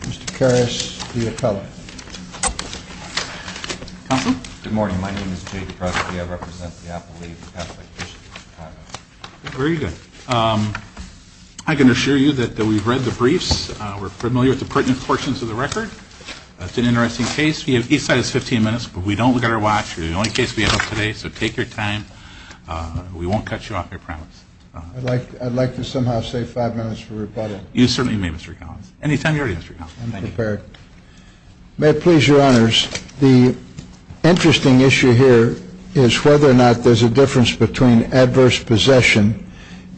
Mr. Karras, the appellant. Counsel? Good morning, my name is Jake Kraske. I represent the Appellate League for Catholic Bishops of Chicago. Very good. I can assure you that we've read the briefs. We're familiar with the pertinent portions of the record. It's an interesting case. Each side has 15 minutes, but we don't look at our watch. You're the only case we have up today, so take your time. We won't cut you off, I promise. I'd like to somehow save five minutes for rebuttal. You certainly may, Mr. Karras. Anytime you're ready, Mr. Karras. May it please your honors, the interesting issue here is whether or not there's a difference between adverse possession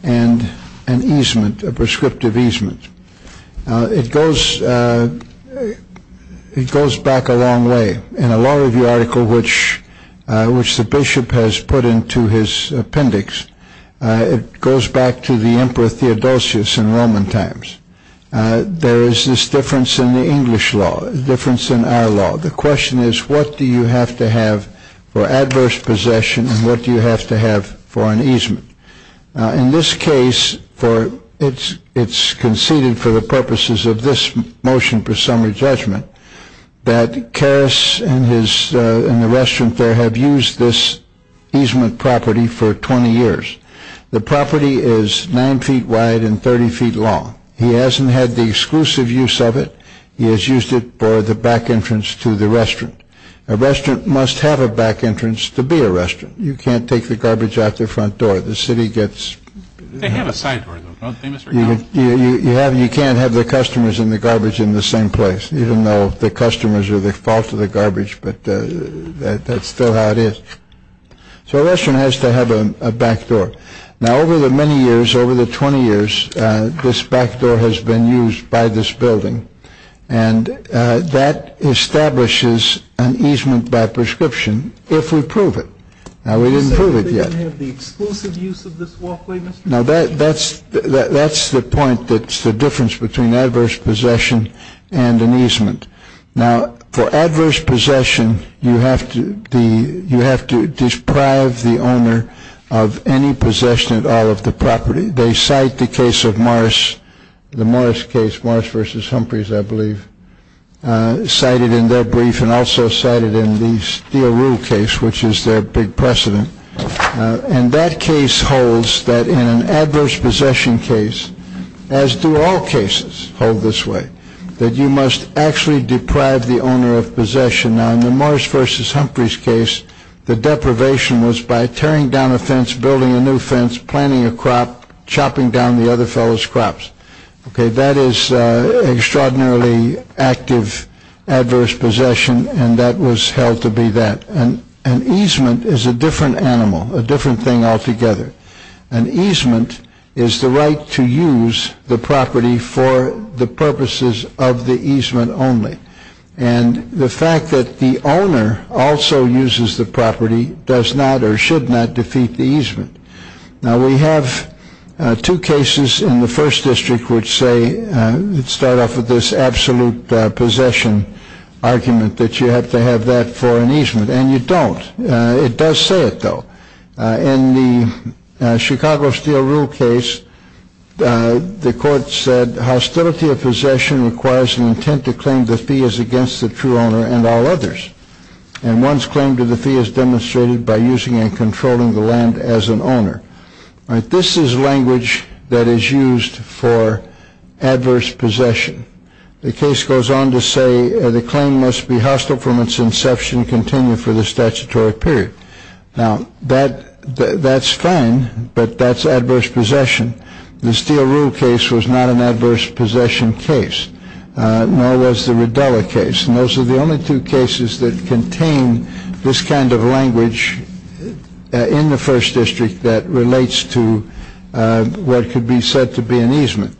and an easement, a prescriptive easement. It goes back a long way. In a law review article which the bishop has put into his appendix, it goes back to the Emperor Theodosius in Roman times. There is this difference in the English law, a difference in our law. The question is, what do you have to have for adverse possession and what do you have to have for an easement? In this case, it's conceded for the purposes of this motion for summary judgment that Karras and the restaurant there have used this easement property for 20 years. The property is nine feet wide and 30 feet long. He hasn't had the exclusive use of it. He has used it for the back entrance to the restaurant. A restaurant must have a back entrance to be a restaurant. You can't take the garbage out the front door. The city gets... They have a side door, though, don't they, Mr. Karras? You can't have the customers and the garbage in the same place, even though the customers are the fault of the garbage. But that's still how it is. So a restaurant has to have a back door. Now, over the many years, over the 20 years, this back door has been used by this building, and that establishes an easement by prescription if we prove it. Now, we didn't prove it yet. You're saying they didn't have the exclusive use of this walkway, Mr. Karras? Now, that's the point that's the difference between adverse possession and an easement. Now, for adverse possession, you have to deprive the owner of any possession at all of the property. They cite the case of Morris, the Morris case, Morris v. Humphreys, I believe, cited in their brief and also cited in the Steele Rule case, which is their big precedent. And that case holds that in an adverse possession case, as do all cases hold this way, that you must actually deprive the owner of possession. Now, in the Morris v. Humphreys case, the deprivation was by tearing down a fence, building a new fence, planting a crop, chopping down the other fellow's crops. That is extraordinarily active adverse possession, and that was held to be that. An easement is a different animal, a different thing altogether. An easement is the right to use the property for the purposes of the easement only. And the fact that the owner also uses the property does not or should not defeat the easement. Now, we have two cases in the first district which say, let's start off with this absolute possession argument, that you have to have that for an easement. And you don't. It does say it, though. In the Chicago Steele Rule case, the court said hostility of possession requires an intent to claim the fee as against the true owner and all others. And one's claim to the fee is demonstrated by using and controlling the land as an owner. This is language that is used for adverse possession. The case goes on to say the claim must be hostile from its inception, continue for the statutory period. Now, that's fine, but that's adverse possession. The Steele Rule case was not an adverse possession case, nor was the Riddella case. And those are the only two cases that contain this kind of language in the first district that relates to what could be said to be an easement.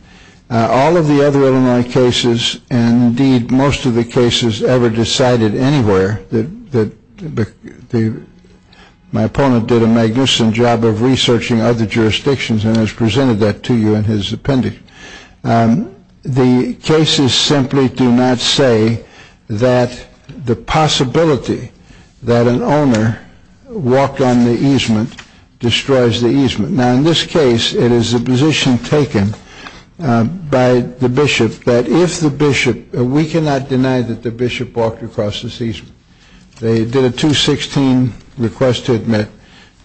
All of the other Illinois cases and, indeed, most of the cases ever decided anywhere that my opponent did a magnificent job of researching other jurisdictions and has presented that to you in his appendix. The cases simply do not say that the possibility that an owner walked on the easement destroys the easement. Now, in this case, it is a position taken by the bishop that if the bishop, we cannot deny that the bishop walked across this easement. They did a 216 request to admit.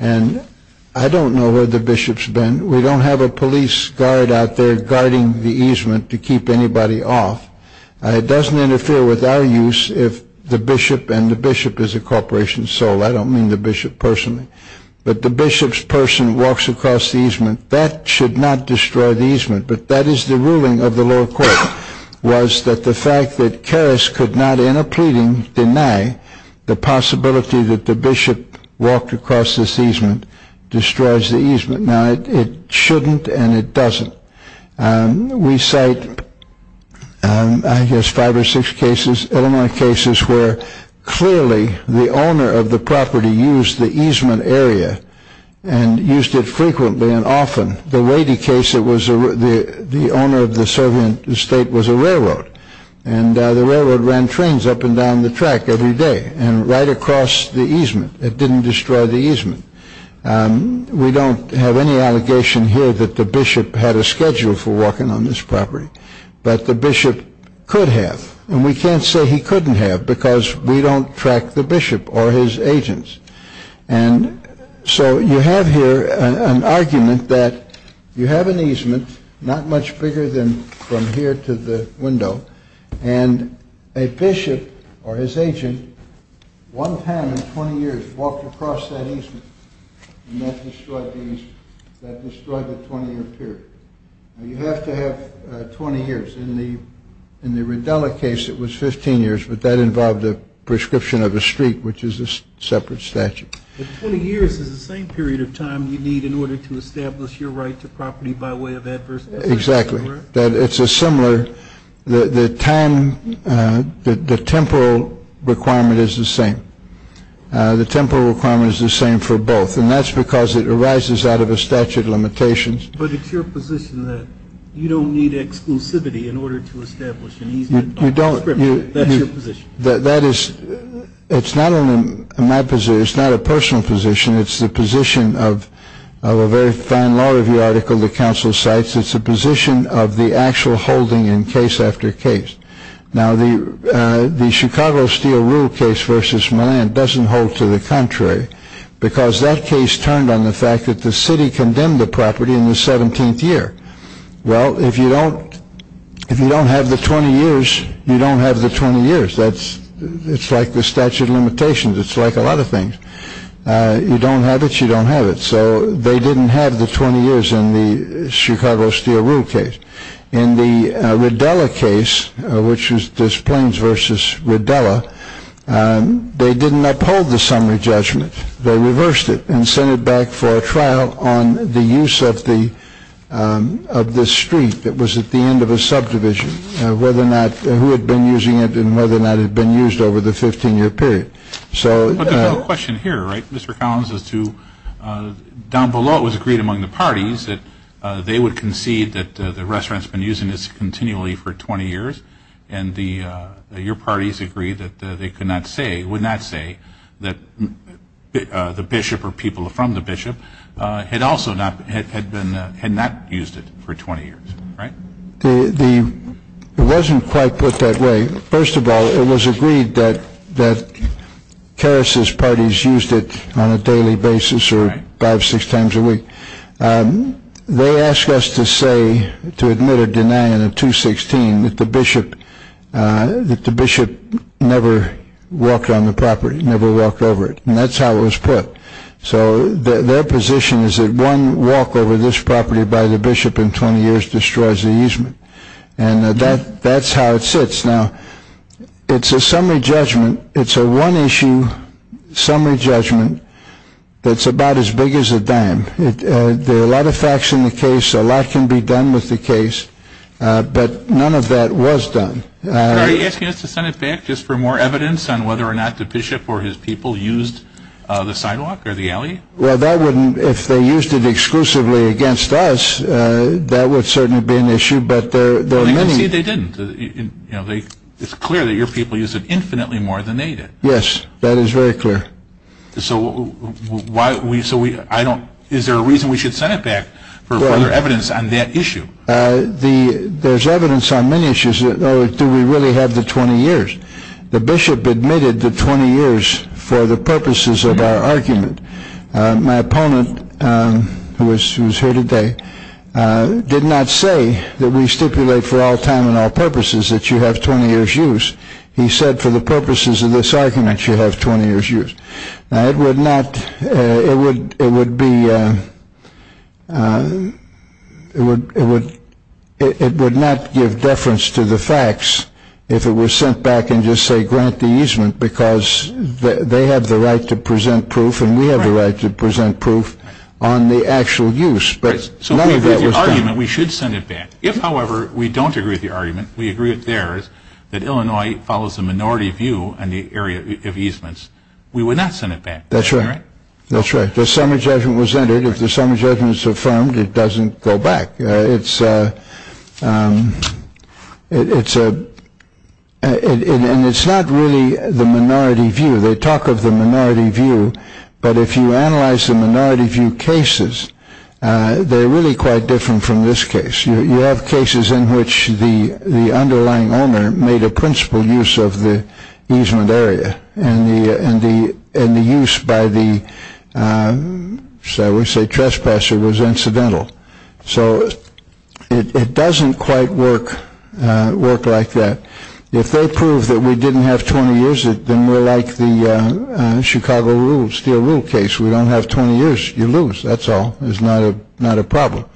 And I don't know where the bishop's been. We don't have a police guard out there guarding the easement to keep anybody off. It doesn't interfere with our use if the bishop, and the bishop is a corporation soul. I don't mean the bishop personally. But the bishop's person walks across the easement. That should not destroy the easement. But that is the ruling of the lower court, was that the fact that Karras could not, in a pleading, deny the possibility that the bishop walked across this easement destroys the easement. Now, it shouldn't and it doesn't. We cite, I guess, five or six cases, Illinois cases, where clearly the owner of the property used the easement area and used it frequently and often. The weighty case, the owner of the Soviet estate was a railroad. And the railroad ran trains up and down the track every day and right across the easement. It didn't destroy the easement. We don't have any allegation here that the bishop had a schedule for walking on this property. But the bishop could have. And we can't say he couldn't have because we don't track the bishop or his agents. And so you have here an argument that you have an easement, not much bigger than from here to the window, and a bishop or his agent, one time in 20 years, walked across that easement. And that destroyed the easement. That destroyed the 20-year period. Now, you have to have 20 years. In the Rodella case, it was 15 years, but that involved a prescription of a streak, which is a separate statute. But 20 years is the same period of time you need in order to establish your right to property by way of adverse effects. Exactly. That it's a similar, the time, the temporal requirement is the same. The temporal requirement is the same for both. And that's because it arises out of a statute of limitations. But it's your position that you don't need exclusivity in order to establish an easement. You don't. That's your position. That is, it's not only my position. It's not a personal position. It's the position of a very fine law review article the council cites. It's a position of the actual holding in case after case. Now, the Chicago Steel Rule case versus Milan doesn't hold to the contrary, because that case turned on the fact that the city condemned the property in the 17th year. Well, if you don't have the 20 years, you don't have the 20 years. It's like the statute of limitations. It's like a lot of things. You don't have it. You don't have it. So they didn't have the 20 years in the Chicago Steel Rule case. In the Rodella case, which is this Plains versus Rodella, they didn't uphold the summary judgment. They reversed it and sent it back for a trial on the use of the street that was at the end of a subdivision, whether or not who had been using it and whether or not it had been used over the 15-year period. But there's no question here, right, Mr. Collins, as to down below it was agreed among the parties that they would concede that the restaurant's been using this continually for 20 years, and your parties agreed that they could not say, would not say, that the bishop or people from the bishop had not used it for 20 years, right? It wasn't quite put that way. First of all, it was agreed that Carus's parties used it on a daily basis or five, six times a week. They asked us to say, to admit or deny in a 216, that the bishop never walked on the property, never walked over it, and that's how it was put. So their position is that one walk over this property by the bishop in 20 years destroys the easement. And that's how it sits. Now, it's a summary judgment. It's a one-issue summary judgment that's about as big as a dime. There are a lot of facts in the case. A lot can be done with the case. But none of that was done. Are you asking us to send it back just for more evidence on whether or not the bishop or his people used the sidewalk or the alley? Well, that wouldn't, if they used it exclusively against us, that would certainly be an issue. But there are many. Well, I can see they didn't. It's clear that your people used it infinitely more than they did. Yes, that is very clear. So is there a reason we should send it back for further evidence on that issue? There's evidence on many issues. Do we really have the 20 years? The bishop admitted the 20 years for the purposes of our argument. My opponent, who is here today, did not say that we stipulate for all time and all purposes that you have 20 years' use. He said for the purposes of this argument, you have 20 years' use. Now, it would not give deference to the facts if it was sent back and just say grant the easement because they have the right to present proof and we have the right to present proof on the actual use. So if we agree with your argument, we should send it back. If, however, we don't agree with your argument, we agree with theirs, that Illinois follows the minority view on the area of easements, we would not send it back. That's right. That's right. The summary judgment was entered. If the summary judgment is affirmed, it doesn't go back. And it's not really the minority view. They talk of the minority view. But if you analyze the minority view cases, they're really quite different from this case. You have cases in which the underlying owner made a principal use of the easement area and the use by the, shall we say, trespasser was incidental. So it doesn't quite work like that. If they prove that we didn't have 20 years, then we're like the Chicago Steel Rule case. We don't have 20 years. You lose. That's all. It's not a problem.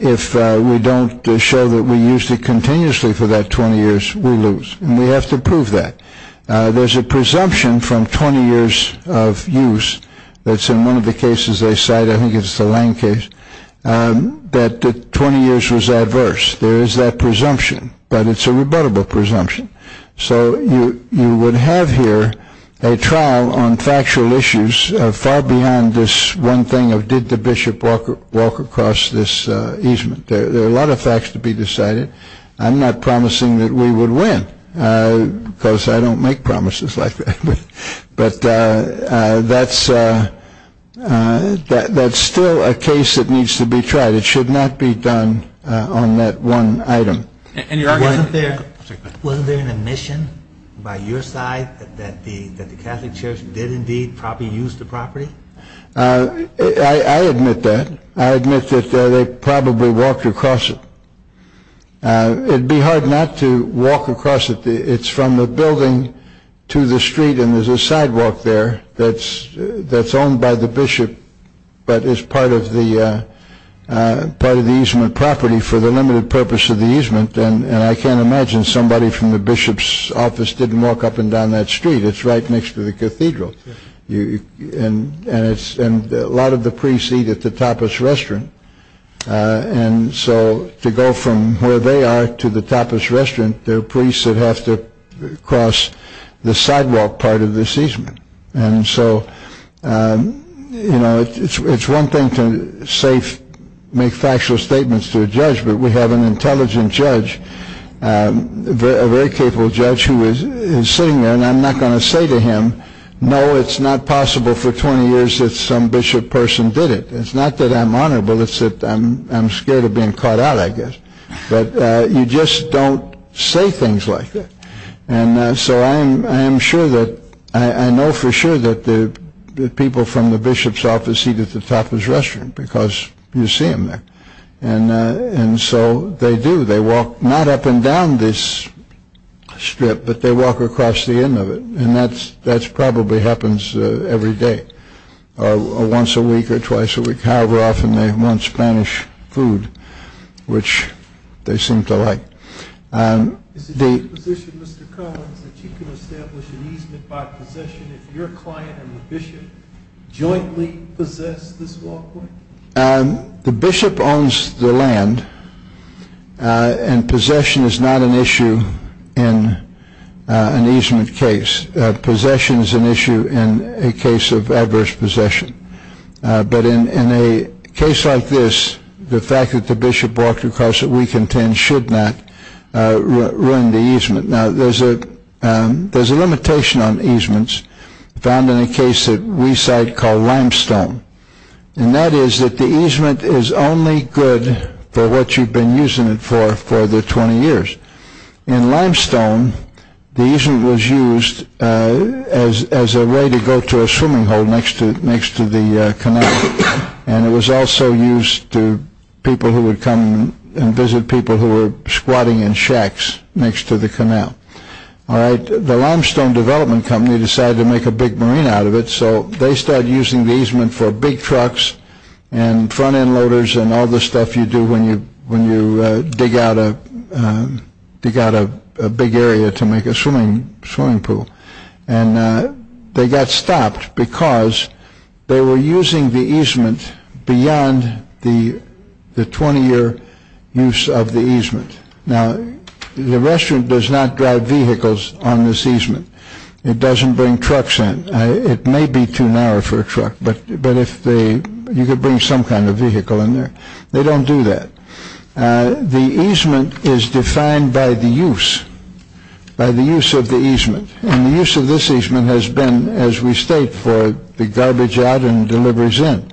If we don't show that we used it continuously for that 20 years, we lose. And we have to prove that. There's a presumption from 20 years of use that's in one of the cases they cite. I think it's the Lane case. That 20 years was adverse. There is that presumption. But it's a rebuttable presumption. So you would have here a trial on factual issues far beyond this one thing of did the bishop walk across this easement. There are a lot of facts to be decided. I'm not promising that we would win because I don't make promises like that. But that's still a case that needs to be tried. It should not be done on that one item. Wasn't there an admission by your side that the Catholic Church did indeed probably use the property? I admit that. I admit that they probably walked across it. It would be hard not to walk across it. It's from the building to the street, and there's a sidewalk there that's owned by the bishop but is part of the easement property for the limited purpose of the easement. And I can't imagine somebody from the bishop's office didn't walk up and down that street. It's right next to the cathedral. And a lot of the priests eat at the tapas restaurant. And so to go from where they are to the tapas restaurant, there are priests that have to cross the sidewalk part of this easement. And so, you know, it's one thing to make factual statements to a judge, but we have an intelligent judge, a very capable judge, who is sitting there. And I'm not going to say to him, no, it's not possible for 20 years that some bishop person did it. It's not that I'm honorable. It's that I'm scared of being caught out, I guess. But you just don't say things like that. And so I am sure that I know for sure that the people from the bishop's office eat at the tapas restaurant because you see them there. And so they do. They walk not up and down this strip, but they walk across the end of it. And that probably happens every day or once a week or twice a week. However, often they want Spanish food, which they seem to like. Is it your position, Mr. Collins, that you can establish an easement by possession if your client and the bishop jointly possess this walkway? The bishop owns the land, and possession is not an issue in an easement case. Possession is an issue in a case of adverse possession. But in a case like this, the fact that the bishop walked across it, we contend, should not ruin the easement. Now, there's a limitation on easements found in a case that we cite called Limestone. And that is that the easement is only good for what you've been using it for for the 20 years. In Limestone, the easement was used as a way to go to a swimming hole next to the canal. And it was also used to people who would come and visit people who were squatting in shacks next to the canal. The Limestone Development Company decided to make a big marine out of it, so they started using the easement for big trucks and front end loaders and all the stuff you do when you dig out a big area to make a swimming pool. And they got stopped because they were using the easement beyond the 20-year use of the easement. Now, the restaurant does not drive vehicles on this easement. It doesn't bring trucks in. It may be too narrow for a truck, but you could bring some kind of vehicle in there. They don't do that. The easement is defined by the use, by the use of the easement. And the use of this easement has been, as we state, for the garbage out and deliveries in.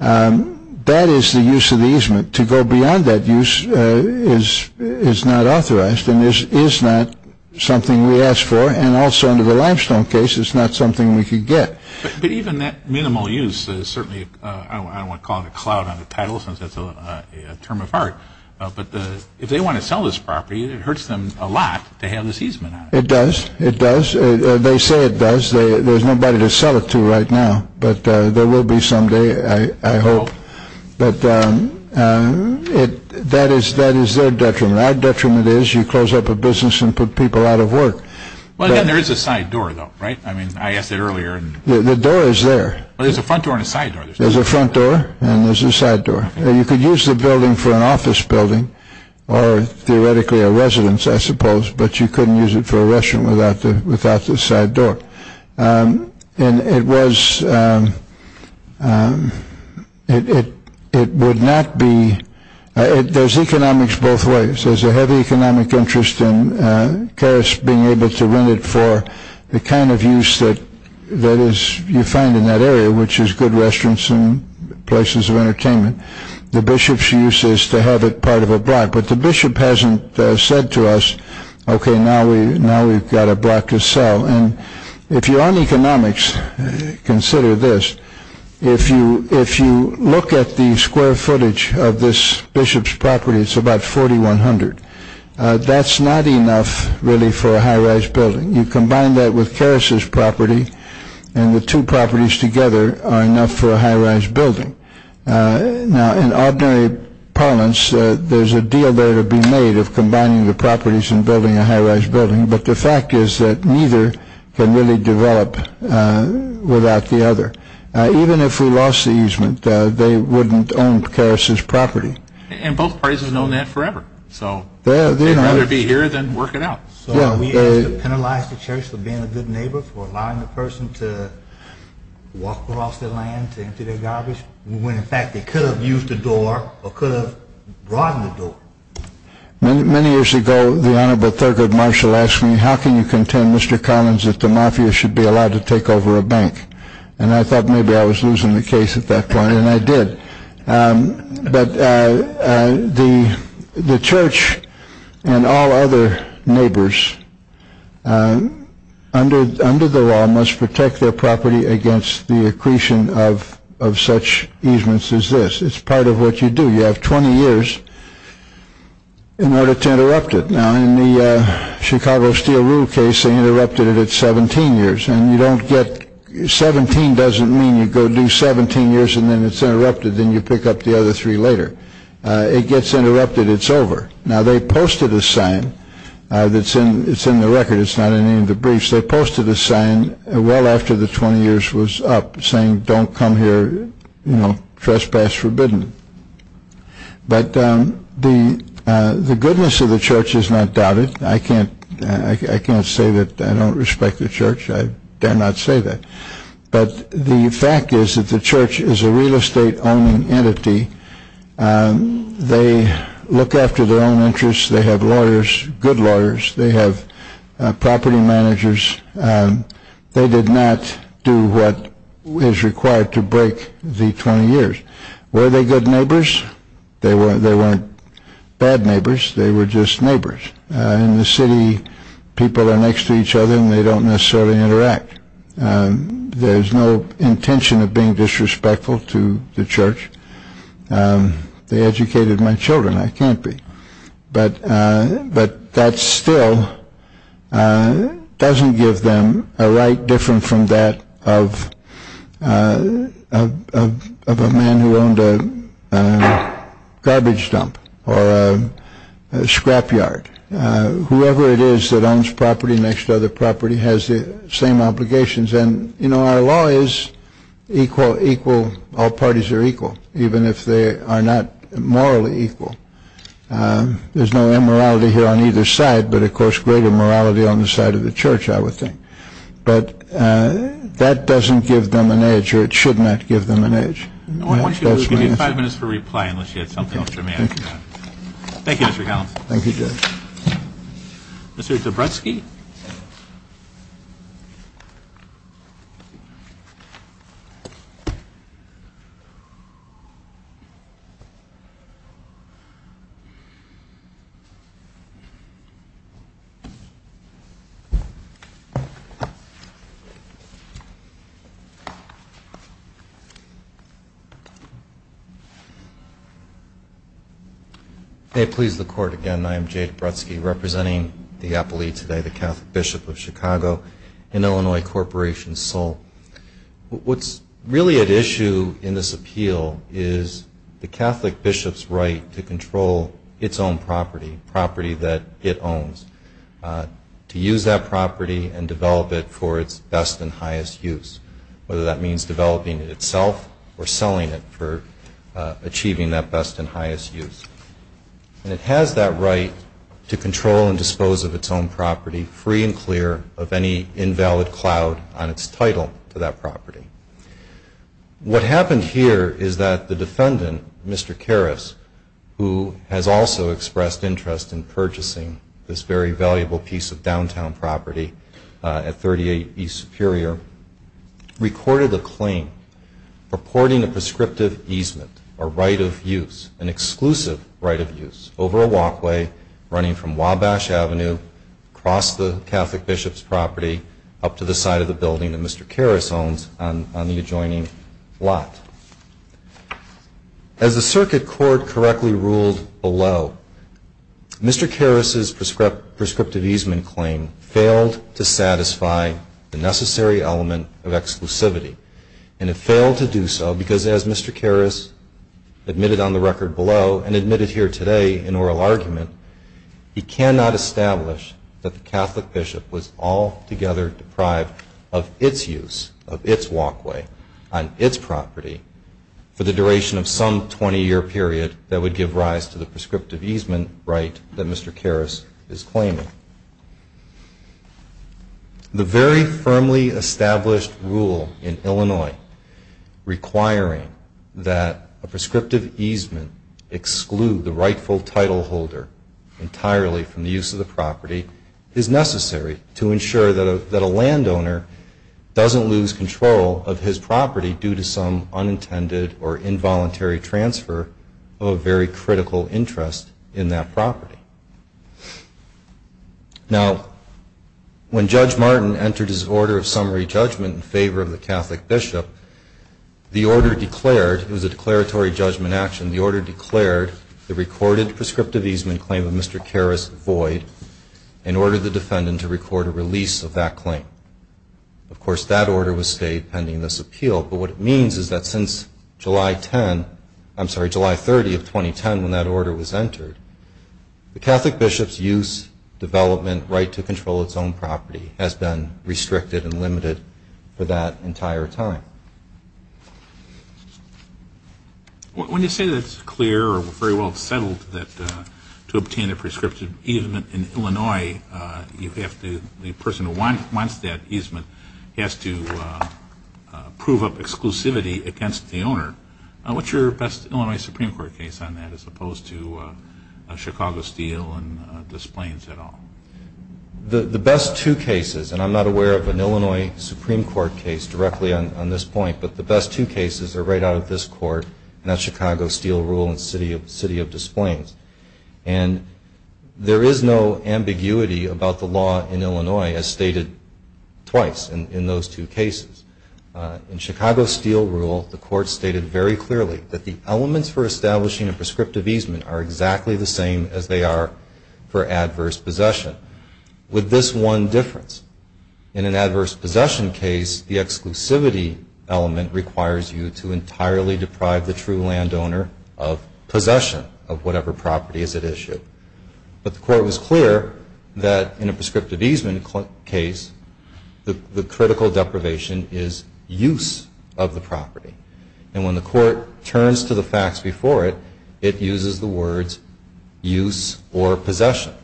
That is the use of the easement. To go beyond that use is not authorized and is not something we ask for. And also under the limestone case, it's not something we could get. But even that minimal use is certainly, I don't want to call it a cloud on the title since it's a term of art, but if they want to sell this property, it hurts them a lot to have this easement on it. It does. It does. They say it does. There's nobody to sell it to right now, but there will be someday, I hope. But that is their detriment. And our detriment is you close up a business and put people out of work. There is a side door, though, right? I mean, I asked that earlier. The door is there. There's a front door and a side door. There's a front door and there's a side door. You could use the building for an office building or theoretically a residence, I suppose, but you couldn't use it for a restaurant without the side door. And it was, it would not be, there's economics both ways. There's a heavy economic interest in Caris being able to rent it for the kind of use that you find in that area, which is good restaurants and places of entertainment. The bishop's use is to have it part of a block. But the bishop hasn't said to us, okay, now we've got a block to sell. And if you're on economics, consider this. If you look at the square footage of this bishop's property, it's about 4,100. That's not enough, really, for a high-rise building. You combine that with Caris's property, and the two properties together are enough for a high-rise building. Now, in ordinary parlance, there's a deal there to be made of combining the properties and building a high-rise building. But the fact is that neither can really develop without the other. Even if we lost the easement, they wouldn't own Caris's property. And both parties have known that forever. So they'd rather be here than work it out. So we penalized the church for being a good neighbor, for allowing the person to walk across their land, to empty their garbage, when, in fact, they could have used the door or could have broadened the door. Many years ago, the Honorable Thurgood Marshall asked me, how can you contend, Mr. Collins, that the mafia should be allowed to take over a bank? And I thought maybe I was losing the case at that point, and I did. But the church and all other neighbors under the law must protect their property against the accretion of such easements as this. It's part of what you do. You have 20 years in order to interrupt it. Now, in the Chicago Steel Rule case, they interrupted it at 17 years. And 17 doesn't mean you go do 17 years and then it's interrupted, then you pick up the other three later. It gets interrupted. It's over. Now, they posted a sign that's in the record. It's not in any of the briefs. They posted a sign well after the 20 years was up saying don't come here, you know, trespass forbidden. But the goodness of the church is not doubted. I can't say that I don't respect the church. I dare not say that. But the fact is that the church is a real estate-owning entity. They look after their own interests. They have lawyers, good lawyers. They have property managers. They did not do what is required to break the 20 years. Were they good neighbors? They weren't bad neighbors. They were just neighbors. In the city, people are next to each other and they don't necessarily interact. There's no intention of being disrespectful to the church. They educated my children. I can't be. But that still doesn't give them a right different from that of a man who owned a garbage dump or a scrapyard. Whoever it is that owns property next to other property has the same obligations. And, you know, our law is equal, equal, all parties are equal, even if they are not morally equal. There's no immorality here on either side, but, of course, greater morality on the side of the church, I would think. But that doesn't give them an edge, or it should not give them an edge. I want you to give me five minutes for reply unless you had something else. Thank you, Judge. Mr. Dabrowski? May it please the Court again, I am Jay Dabrowski representing the appellee today, the Catholic Bishop of Chicago in Illinois Corporation, Seoul. What's really at issue in this appeal is the Catholic Bishop's right to control its own property, property that it owns, to use that property and develop it for its best and highest use, whether that means developing it itself or selling it for achieving that best and highest use. And it has that right to control and dispose of its own property, free and clear of any invalid cloud on its title to that property. What happened here is that the defendant, Mr. Karras, who has also expressed interest in purchasing this very valuable piece of downtown property at 38 East Superior, recorded a claim purporting a prescriptive easement, a right of use, an exclusive right of use, over a walkway running from Wabash Avenue across the Catholic Bishop's property up to the side of the building that Mr. Karras owns on the adjoining lot. As the circuit court correctly ruled below, Mr. Karras' prescriptive easement claim failed to satisfy the necessary element of exclusivity. And it failed to do so because, as Mr. Karras admitted on the record below and admitted here today in oral argument, he cannot establish that the Catholic Bishop was altogether deprived of its use, of its walkway on its property for the duration of some 20-year period that would give rise to the prescriptive easement right that Mr. Karras is claiming. The very firmly established rule in Illinois requiring that a prescriptive easement exclude the rightful titleholder entirely from the use of the property is necessary to ensure that a landowner doesn't lose control of his property due to some unintended or involuntary transfer of a very critical interest in that property. Now, when Judge Martin entered his order of summary judgment in favor of the Catholic Bishop, the order declared, it was a declaratory judgment action, the order declared the recorded prescriptive easement claim of Mr. Karras void and ordered the defendant to record a release of that claim. Of course, that order was stayed pending this appeal, but what it means is that since July 10, I'm sorry, July 30 of 2010 when that order was entered, the Catholic Bishop's use, development, right to control its own property has been restricted and limited for that entire time. When you say that it's clear or very well settled to obtain a prescriptive easement in Illinois, you have to, the person who wants that easement has to prove up exclusivity against the owner. What's your best Illinois Supreme Court case on that as opposed to Chicago Steel and Des Plaines at all? The best two cases, and I'm not aware of an Illinois Supreme Court case directly on this point, but the best two cases are right out of this court, and that's Chicago Steel Rule and City of Des Plaines. And there is no ambiguity about the law in Illinois as stated twice in those two cases. In Chicago Steel Rule, the court stated very clearly that the elements for establishing a prescriptive easement are exactly the same as they are for adverse possession. With this one difference, in an adverse possession case, the exclusivity element requires you to entirely deprive the true landowner of possession of whatever property is at issue. But the court was clear that in a prescriptive easement case, the critical deprivation is use of the property. And when the court turns to the facts before it, it uses the words use or possession.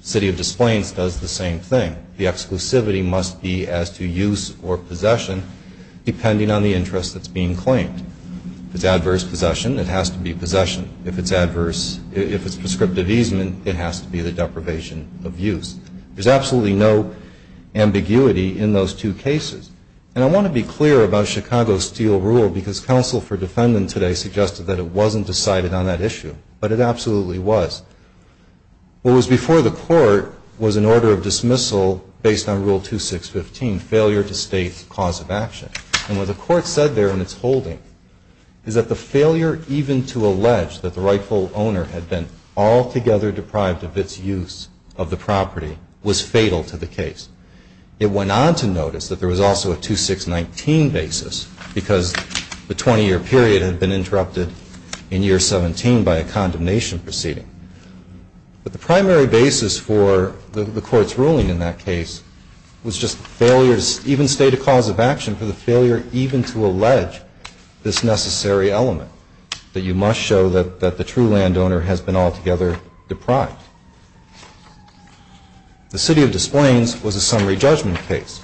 City of Des Plaines does the same thing. The exclusivity must be as to use or possession depending on the interest that's being claimed. If it's adverse possession, it has to be possession. If it's prescriptive easement, it has to be the deprivation of use. There's absolutely no ambiguity in those two cases. And I want to be clear about Chicago Steel Rule because counsel for defendant today suggested that it wasn't decided on that issue, but it absolutely was. What was before the court was an order of dismissal based on Rule 2615, failure to state cause of action. And what the court said there in its holding is that the failure even to allege that the rightful owner had been altogether deprived of its use of the property was fatal to the case. It went on to notice that there was also a 2619 basis because the 20-year period had been interrupted in year 17 by a condemnation proceeding. But the primary basis for the court's ruling in that case was just failure to even state a cause of action for the failure even to allege this necessary element, that you must show that the true landowner has been altogether deprived. The City of Des Plaines was a summary judgment case.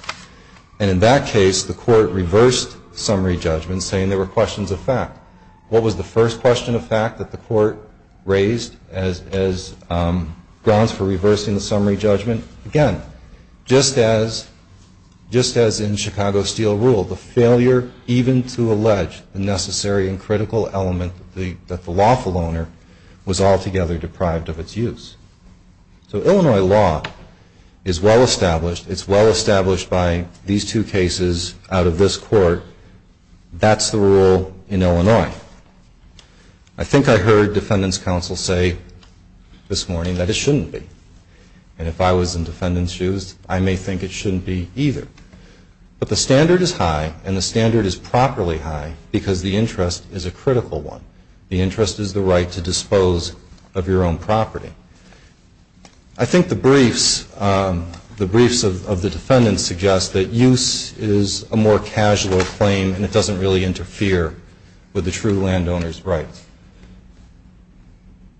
And in that case, the court reversed summary judgment saying there were questions of fact. What was the first question of fact that the court raised as grounds for reversing the summary judgment? Again, just as in Chicago Steel Rule, the failure even to allege the necessary and critical element that the lawful owner was altogether deprived of its use. So Illinois law is well established. It's well established by these two cases out of this court. That's the rule in Illinois. I think I heard defendants' counsel say this morning that it shouldn't be. And if I was in defendants' shoes, I may think it shouldn't be either. But the standard is high and the standard is properly high because the interest is a critical one. The interest is the right to dispose of your own property. I think the briefs of the defendants suggest that use is a more casual claim and it doesn't really interfere with the true landowner's rights.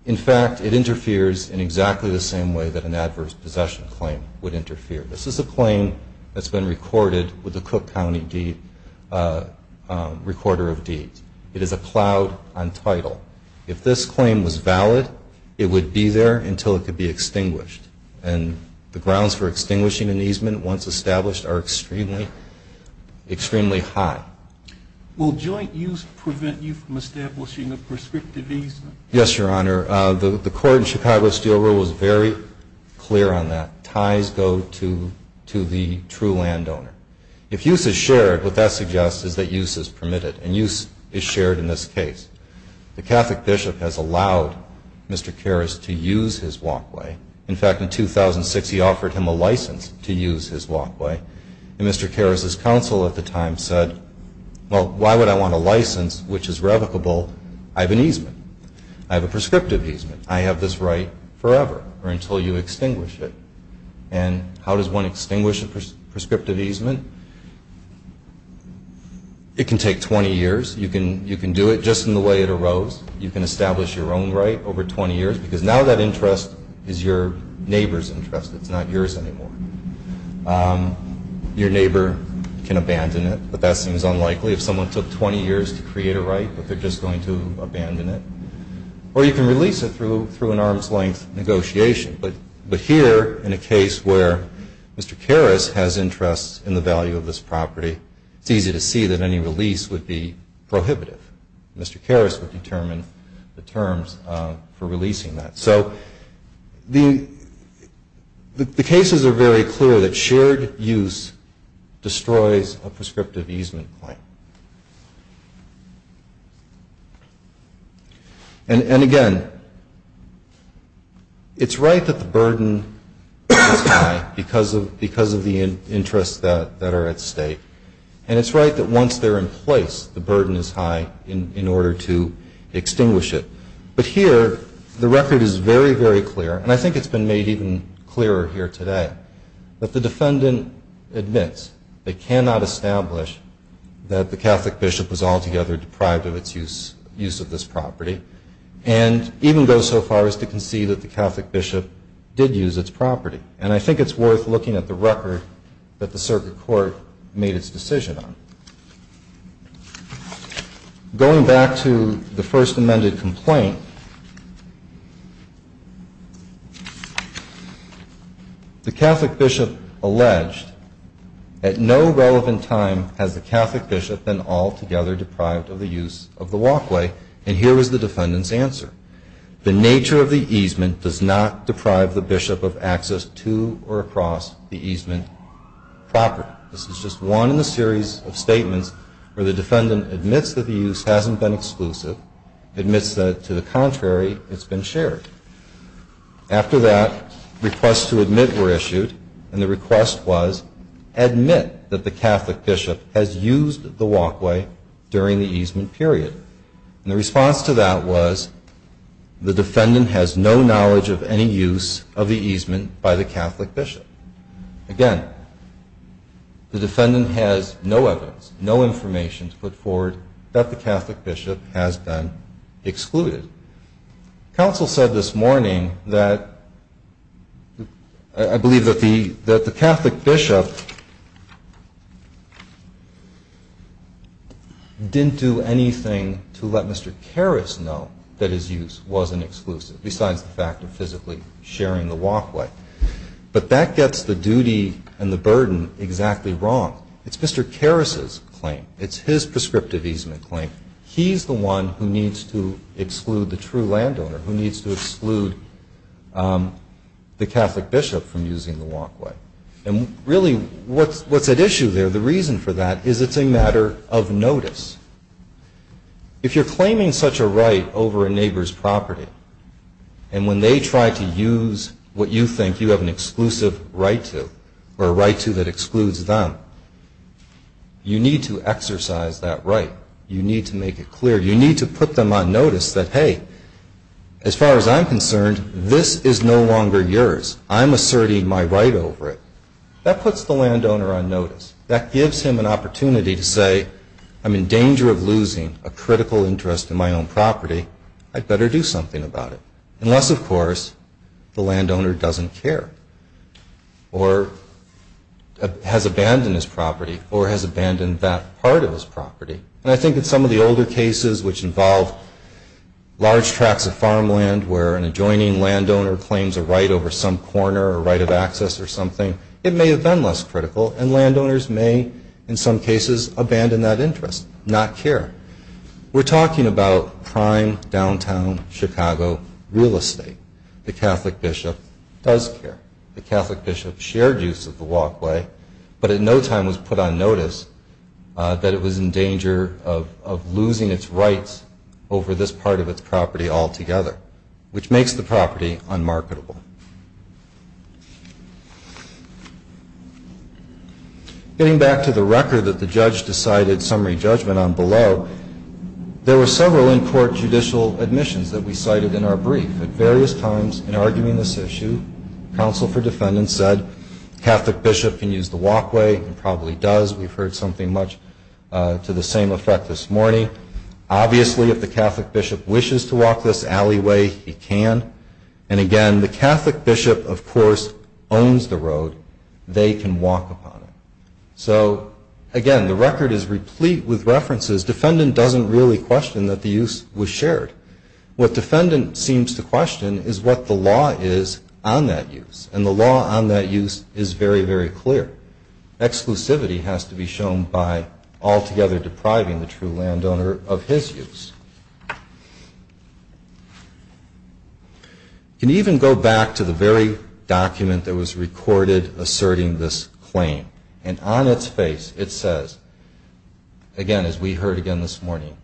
In fact, it interferes in exactly the same way that an adverse possession claim would interfere. This is a claim that's been recorded with the Cook County Recorder of Deeds. It is a cloud on title. If this claim was valid, it would be there until it could be extinguished. And the grounds for extinguishing an easement once established are extremely high. Will joint use prevent you from establishing a prescriptive easement? Yes, Your Honor. The court in Chicago Steel Rule was very clear on that. Ties go to the true landowner. If use is shared, what that suggests is that use is permitted, and use is shared in this case. The Catholic bishop has allowed Mr. Karras to use his walkway. In fact, in 2006, he offered him a license to use his walkway. And Mr. Karras' counsel at the time said, well, why would I want a license which is revocable? I have an easement. I have a prescriptive easement. I have this right forever or until you extinguish it. And how does one extinguish a prescriptive easement? It can take 20 years. You can do it just in the way it arose. You can establish your own right over 20 years because now that interest is your neighbor's interest. It's not yours anymore. Your neighbor can abandon it, but that seems unlikely. If someone took 20 years to create a right, but they're just going to abandon it. Or you can release it through an arm's-length negotiation. But here, in a case where Mr. Karras has interest in the value of this property, it's easy to see that any release would be prohibitive. Mr. Karras would determine the terms for releasing that. So the cases are very clear that shared use destroys a prescriptive easement claim. And, again, it's right that the burden is high because of the interests that are at stake. And it's right that once they're in place, the burden is high in order to extinguish it. But here, the record is very, very clear, and I think it's been made even clearer here today, that the defendant admits they cannot establish that the Catholic bishop was altogether deprived of its use of this property and even goes so far as to concede that the Catholic bishop did use its property. And I think it's worth looking at the record that the circuit court made its decision on. Going back to the first amended complaint, the Catholic bishop alleged, at no relevant time has the Catholic bishop been altogether deprived of the use of the walkway. And here is the defendant's answer. The nature of the easement does not deprive the bishop of access to or across the easement property. This is just one in a series of statements where the defendant admits that the use hasn't been exclusive, admits that, to the contrary, it's been shared. After that, requests to admit were issued, and the request was, admit that the Catholic bishop has used the walkway during the easement period. And the response to that was, the defendant has no knowledge of any use of the easement by the Catholic bishop. Again, the defendant has no evidence, no information to put forward, that the Catholic bishop has been excluded. Counsel said this morning that, I believe that the Catholic bishop didn't do anything to let Mr. Karras know that his use wasn't exclusive, besides the fact of physically sharing the walkway. But that gets the duty and the burden exactly wrong. It's Mr. Karras's claim. It's his prescriptive easement claim. He's the one who needs to exclude the true landowner, who needs to exclude the Catholic bishop from using the walkway. And really, what's at issue there, the reason for that, is it's a matter of notice. If you're claiming such a right over a neighbor's property, and when they try to use what you think you have an exclusive right to, or a right to that excludes them, you need to exercise that right. You need to make it clear. You need to put them on notice that, hey, as far as I'm concerned, this is no longer yours. I'm asserting my right over it. That puts the landowner on notice. That gives him an opportunity to say, I'm in danger of losing a critical interest in my own property. I'd better do something about it. Unless, of course, the landowner doesn't care, or has abandoned his property, or has abandoned that part of his property. And I think in some of the older cases, which involve large tracts of farmland, where an adjoining landowner claims a right over some corner, or right of access or something, it may have been less critical, and landowners may, in some cases, abandon that interest, not care. We're talking about prime downtown Chicago real estate. The Catholic bishop does care. The Catholic bishop shared use of the walkway, but at no time was put on notice that it was in danger of losing its rights over this part of its property altogether, which makes the property unmarketable. Getting back to the record that the judge decided summary judgment on below, there were several in-court judicial admissions that we cited in our brief. At various times in arguing this issue, counsel for defendants said, the Catholic bishop can use the walkway, and probably does. We've heard something much to the same effect this morning. Obviously, if the Catholic bishop wishes to walk this alleyway, he can. And again, the Catholic bishop, of course, owns the road. They can walk upon it. So, again, the record is replete with references. Defendant doesn't really question that the use was shared. What defendant seems to question is what the law is on that use, and the law on that use is very, very clear. Exclusivity has to be shown by altogether depriving the true landowner of his use. Can even go back to the very document that was recorded asserting this claim, and on its face it says, again, as we heard again this morning,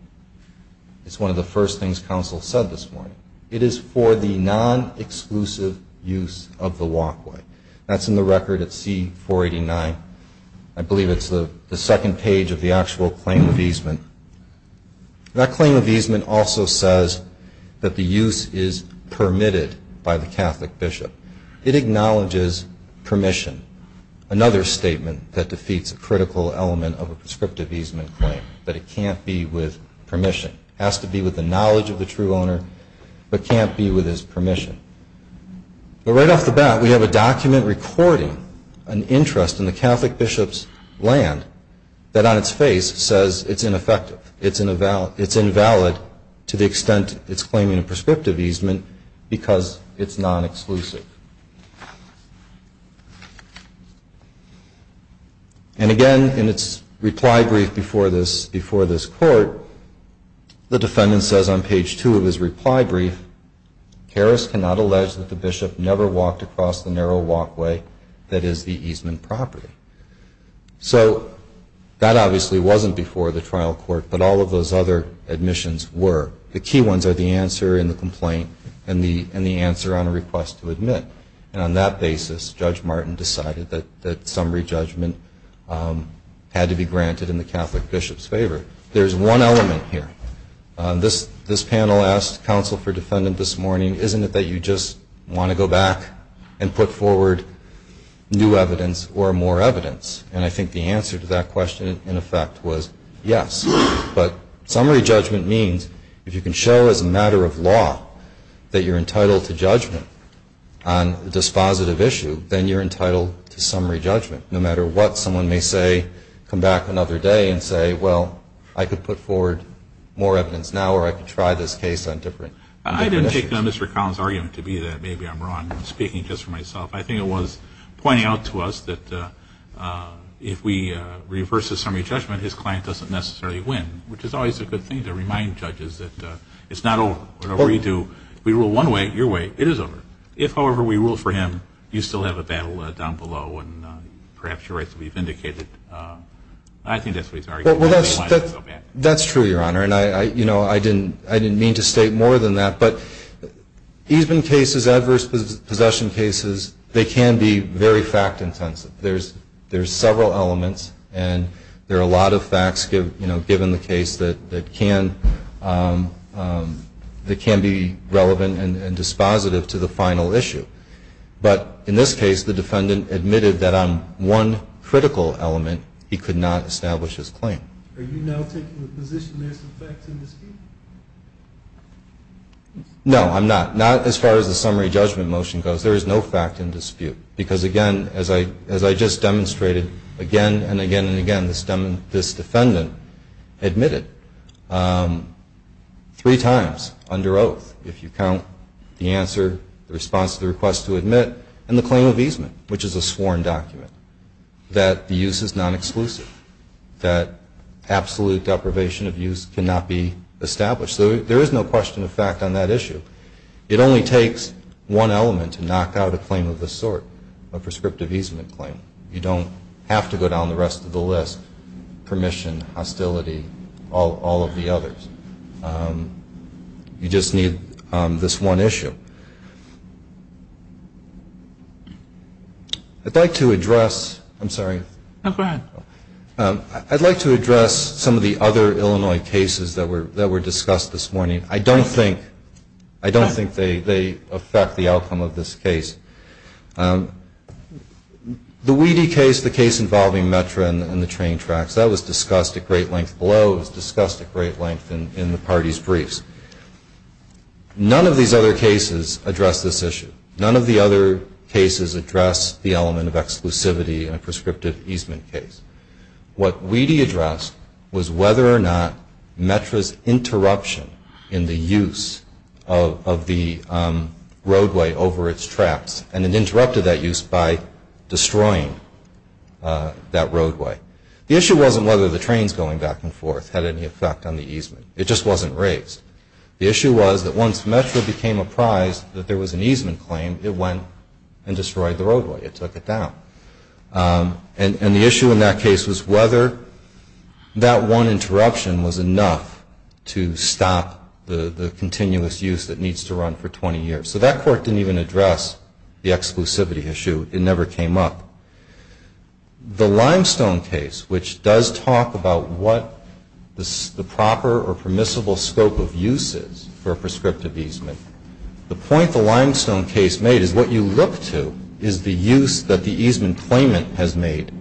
it's one of the first things counsel said this morning, it is for the non-exclusive use of the walkway. That's in the record at C-489. I believe it's the second page of the actual claim of easement. That claim of easement also says that the use is permitted by the Catholic bishop. It acknowledges permission, another statement that defeats a critical element of a prescriptive easement claim, that it can't be with permission. It has to be with the knowledge of the true owner, but can't be with his permission. But right off the bat, we have a document recording an interest in the Catholic bishop's land that on its face says it's ineffective, it's invalid to the extent it's claiming a prescriptive easement because it's non-exclusive. And again, in its reply brief before this court, the defendant says on page two of his reply brief, Harris cannot allege that the bishop never walked across the narrow walkway that is the easement property. So that obviously wasn't before the trial court, but all of those other admissions were. The key ones are the answer in the complaint and the answer on a request to admit. And on that basis, Judge Martin decided that summary judgment had to be granted in the Catholic bishop's favor. There's one element here. This panel asked counsel for defendant this morning, isn't it that you just want to go back and put forward new evidence or more evidence? And I think the answer to that question, in effect, was yes. But summary judgment means if you can show as a matter of law that you're entitled to judgment on a dispositive issue, then you're entitled to summary judgment. No matter what someone may say, come back another day and say, well, I could put forward more evidence now or I could try this case on different issues. I didn't take Mr. Collins' argument to be that maybe I'm wrong. I'm speaking just for myself. I think it was pointing out to us that if we reverse the summary judgment, his client doesn't necessarily win, which is always a good thing to remind judges that it's not over. Whatever you do, we rule one way, your way, it is over. If, however, we rule for him, you still have a battle down below and perhaps your rights will be vindicated. I think that's what he's arguing. Well, that's true, Your Honor, and I didn't mean to state more than that. But even cases, adverse possession cases, they can be very fact-intensive. There's several elements, and there are a lot of facts, you know, given the case that can be relevant and dispositive to the final issue. But in this case, the defendant admitted that on one critical element, he could not establish his claim. No, I'm not. Not as far as the summary judgment motion goes. There is no fact in dispute. Because, again, as I just demonstrated again and again and again, this defendant admitted three times under oath, if you count the answer, the response to the request to admit, and the claim of easement, which is a sworn document, that the use is non-exclusive, that absolute deprivation of use cannot be established. So there is no question of fact on that issue. It only takes one element to knock out a claim of this sort, a prescriptive easement claim. You don't have to go down the rest of the list, permission, hostility, all of the others. You just need this one issue. I'd like to address some of the other Illinois cases that were discussed this morning. I don't think they affect the outcome of this case. The Weedy case, the case involving METRA and the train tracks, that was discussed at great length below, it was discussed at great length in the parties' briefs. None of these other cases address this issue. None of the other cases address the element of exclusivity in a prescriptive easement case. What Weedy addressed was whether or not METRA's interruption in the use of the roadway over its tracks, and it interrupted that use by destroying that roadway. The issue wasn't whether the trains going back and forth had any effect on the easement. It just wasn't raised. The issue was that once METRA became apprised that there was an easement claim, it went and destroyed the roadway, it took it down. And the issue in that case was whether that one interruption was enough to stop the continuous use that needs to run for 20 years. So that court didn't even address the exclusivity issue. It never came up. The limestone case, which does talk about what the proper or permissible scope of use is for a prescriptive easement, the point the limestone case made is what you look to is the use that the easement claimant has made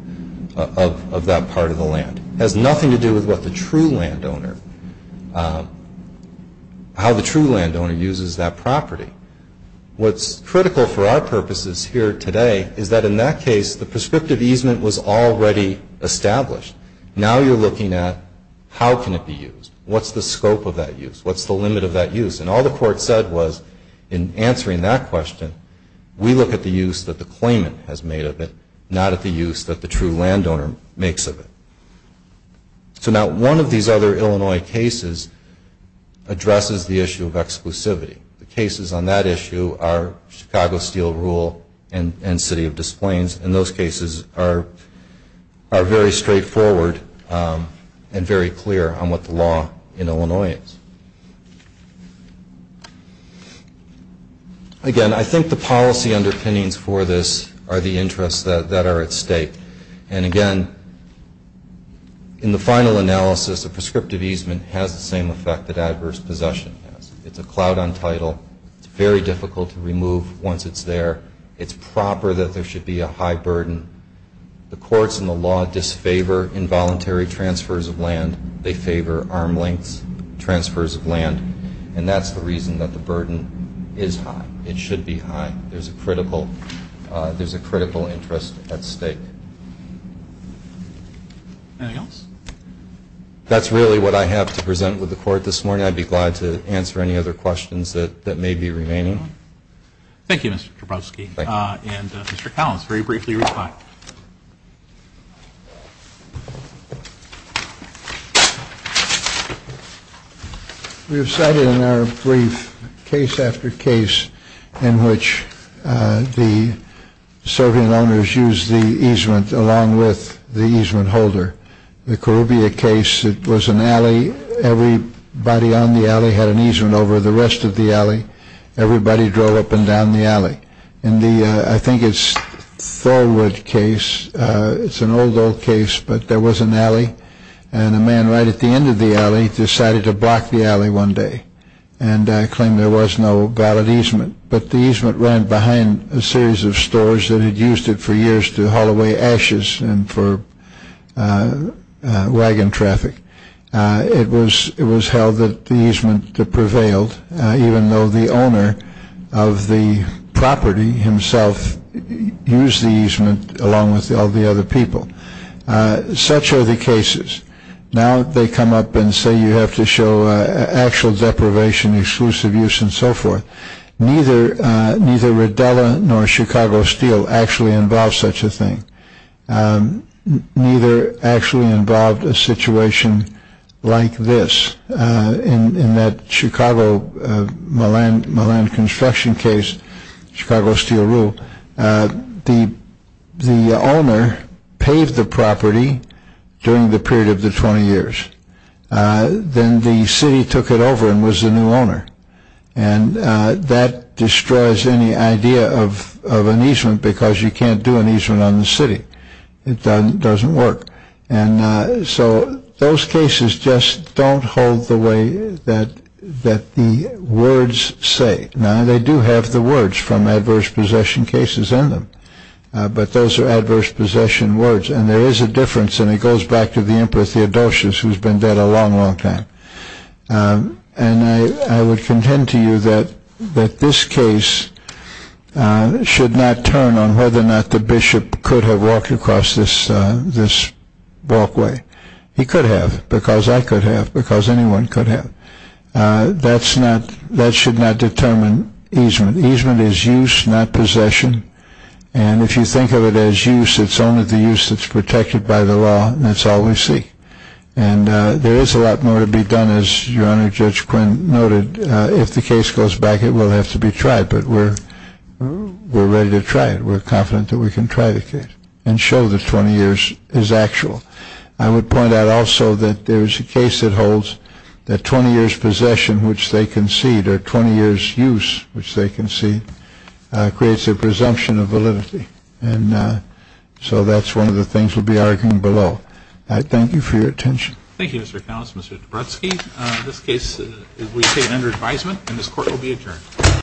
of that part of the land. It has nothing to do with what the true landowner, how the true landowner uses that property. What's critical for our purposes here today is that in that case, the prescriptive easement was already established. Now you're looking at how can it be used? What's the scope of that use? And all the court said was in answering that question, we look at the use that the claimant has made of it, not at the use that the true landowner makes of it. So now one of these other Illinois cases addresses the issue of exclusivity. The cases on that issue are Chicago Steel Rule and City of Des Plaines, and those cases are very straightforward and very clear on what the law in Illinois is. Again, I think the policy underpinnings for this are the interests that are at stake. And again, in the final analysis, a prescriptive easement has the same effect that adverse possession has. It's a cloud on title. It's very difficult to remove once it's there. It's proper that there should be a high burden. The courts and the law disfavor involuntary transfers of land. They favor arm lengths, transfers of land, and that's the reason that the burden is high. It should be high. There's a critical interest at stake. That's really what I have to present with the court this morning. I'd be glad to answer any other questions that may be remaining. Thank you, Mr. Dabrowski. And Mr. Collins, very briefly reply. We have cited in our brief case after case in which the serving owners used the easement along with the easement holder. The Corrubia case, it was an alley. Everybody on the alley had an easement over the rest of the alley. Everybody drove up and down the alley. I think it's Thorwood case. It's an old, old case, but there was an alley, and a man right at the end of the alley decided to block the alley one day and claim there was no valid easement, but the easement ran behind a series of stores that had used it for years to haul away ashes and for wagon traffic. It was held that the easement prevailed, even though the owner of the property himself used the easement along with all the other people. Such are the cases. Now they come up and say you have to show actual deprivation, exclusive use, and so forth. Neither Rodella nor Chicago Steel actually involved such a thing. Neither actually involved a situation like this. In that Chicago Milan construction case, Chicago Steel Rule, the owner paved the property during the period of the 20 years. Then the city took it over and was the new owner. That destroys any idea of an easement because you can't do an easement on the city. It doesn't work. So those cases just don't hold the way that the words say. Now they do have the words from adverse possession cases in them, but those are adverse possession words and there is a difference. It goes back to the emperor Theodosius who has been dead a long, long time. I would contend to you that this case should not turn on whether or not the bishop could have walked across this walkway. He could have because I could have because anyone could have. That should not determine easement. Easement is use, not possession. If you think of it as use, it's only the use that's protected by the law and that's all we see. There is a lot more to be done as your Honor Judge Quinn noted. If the case goes back, it will have to be tried, but we're ready to try it. We're confident that we can try the case and show that 20 years is actual. I would point out also that there is a case that holds that 20 years possession, which they concede, or 20 years use, which they concede, creates a presumption of validity. And so that's one of the things we'll be arguing below. Thank you for your attention.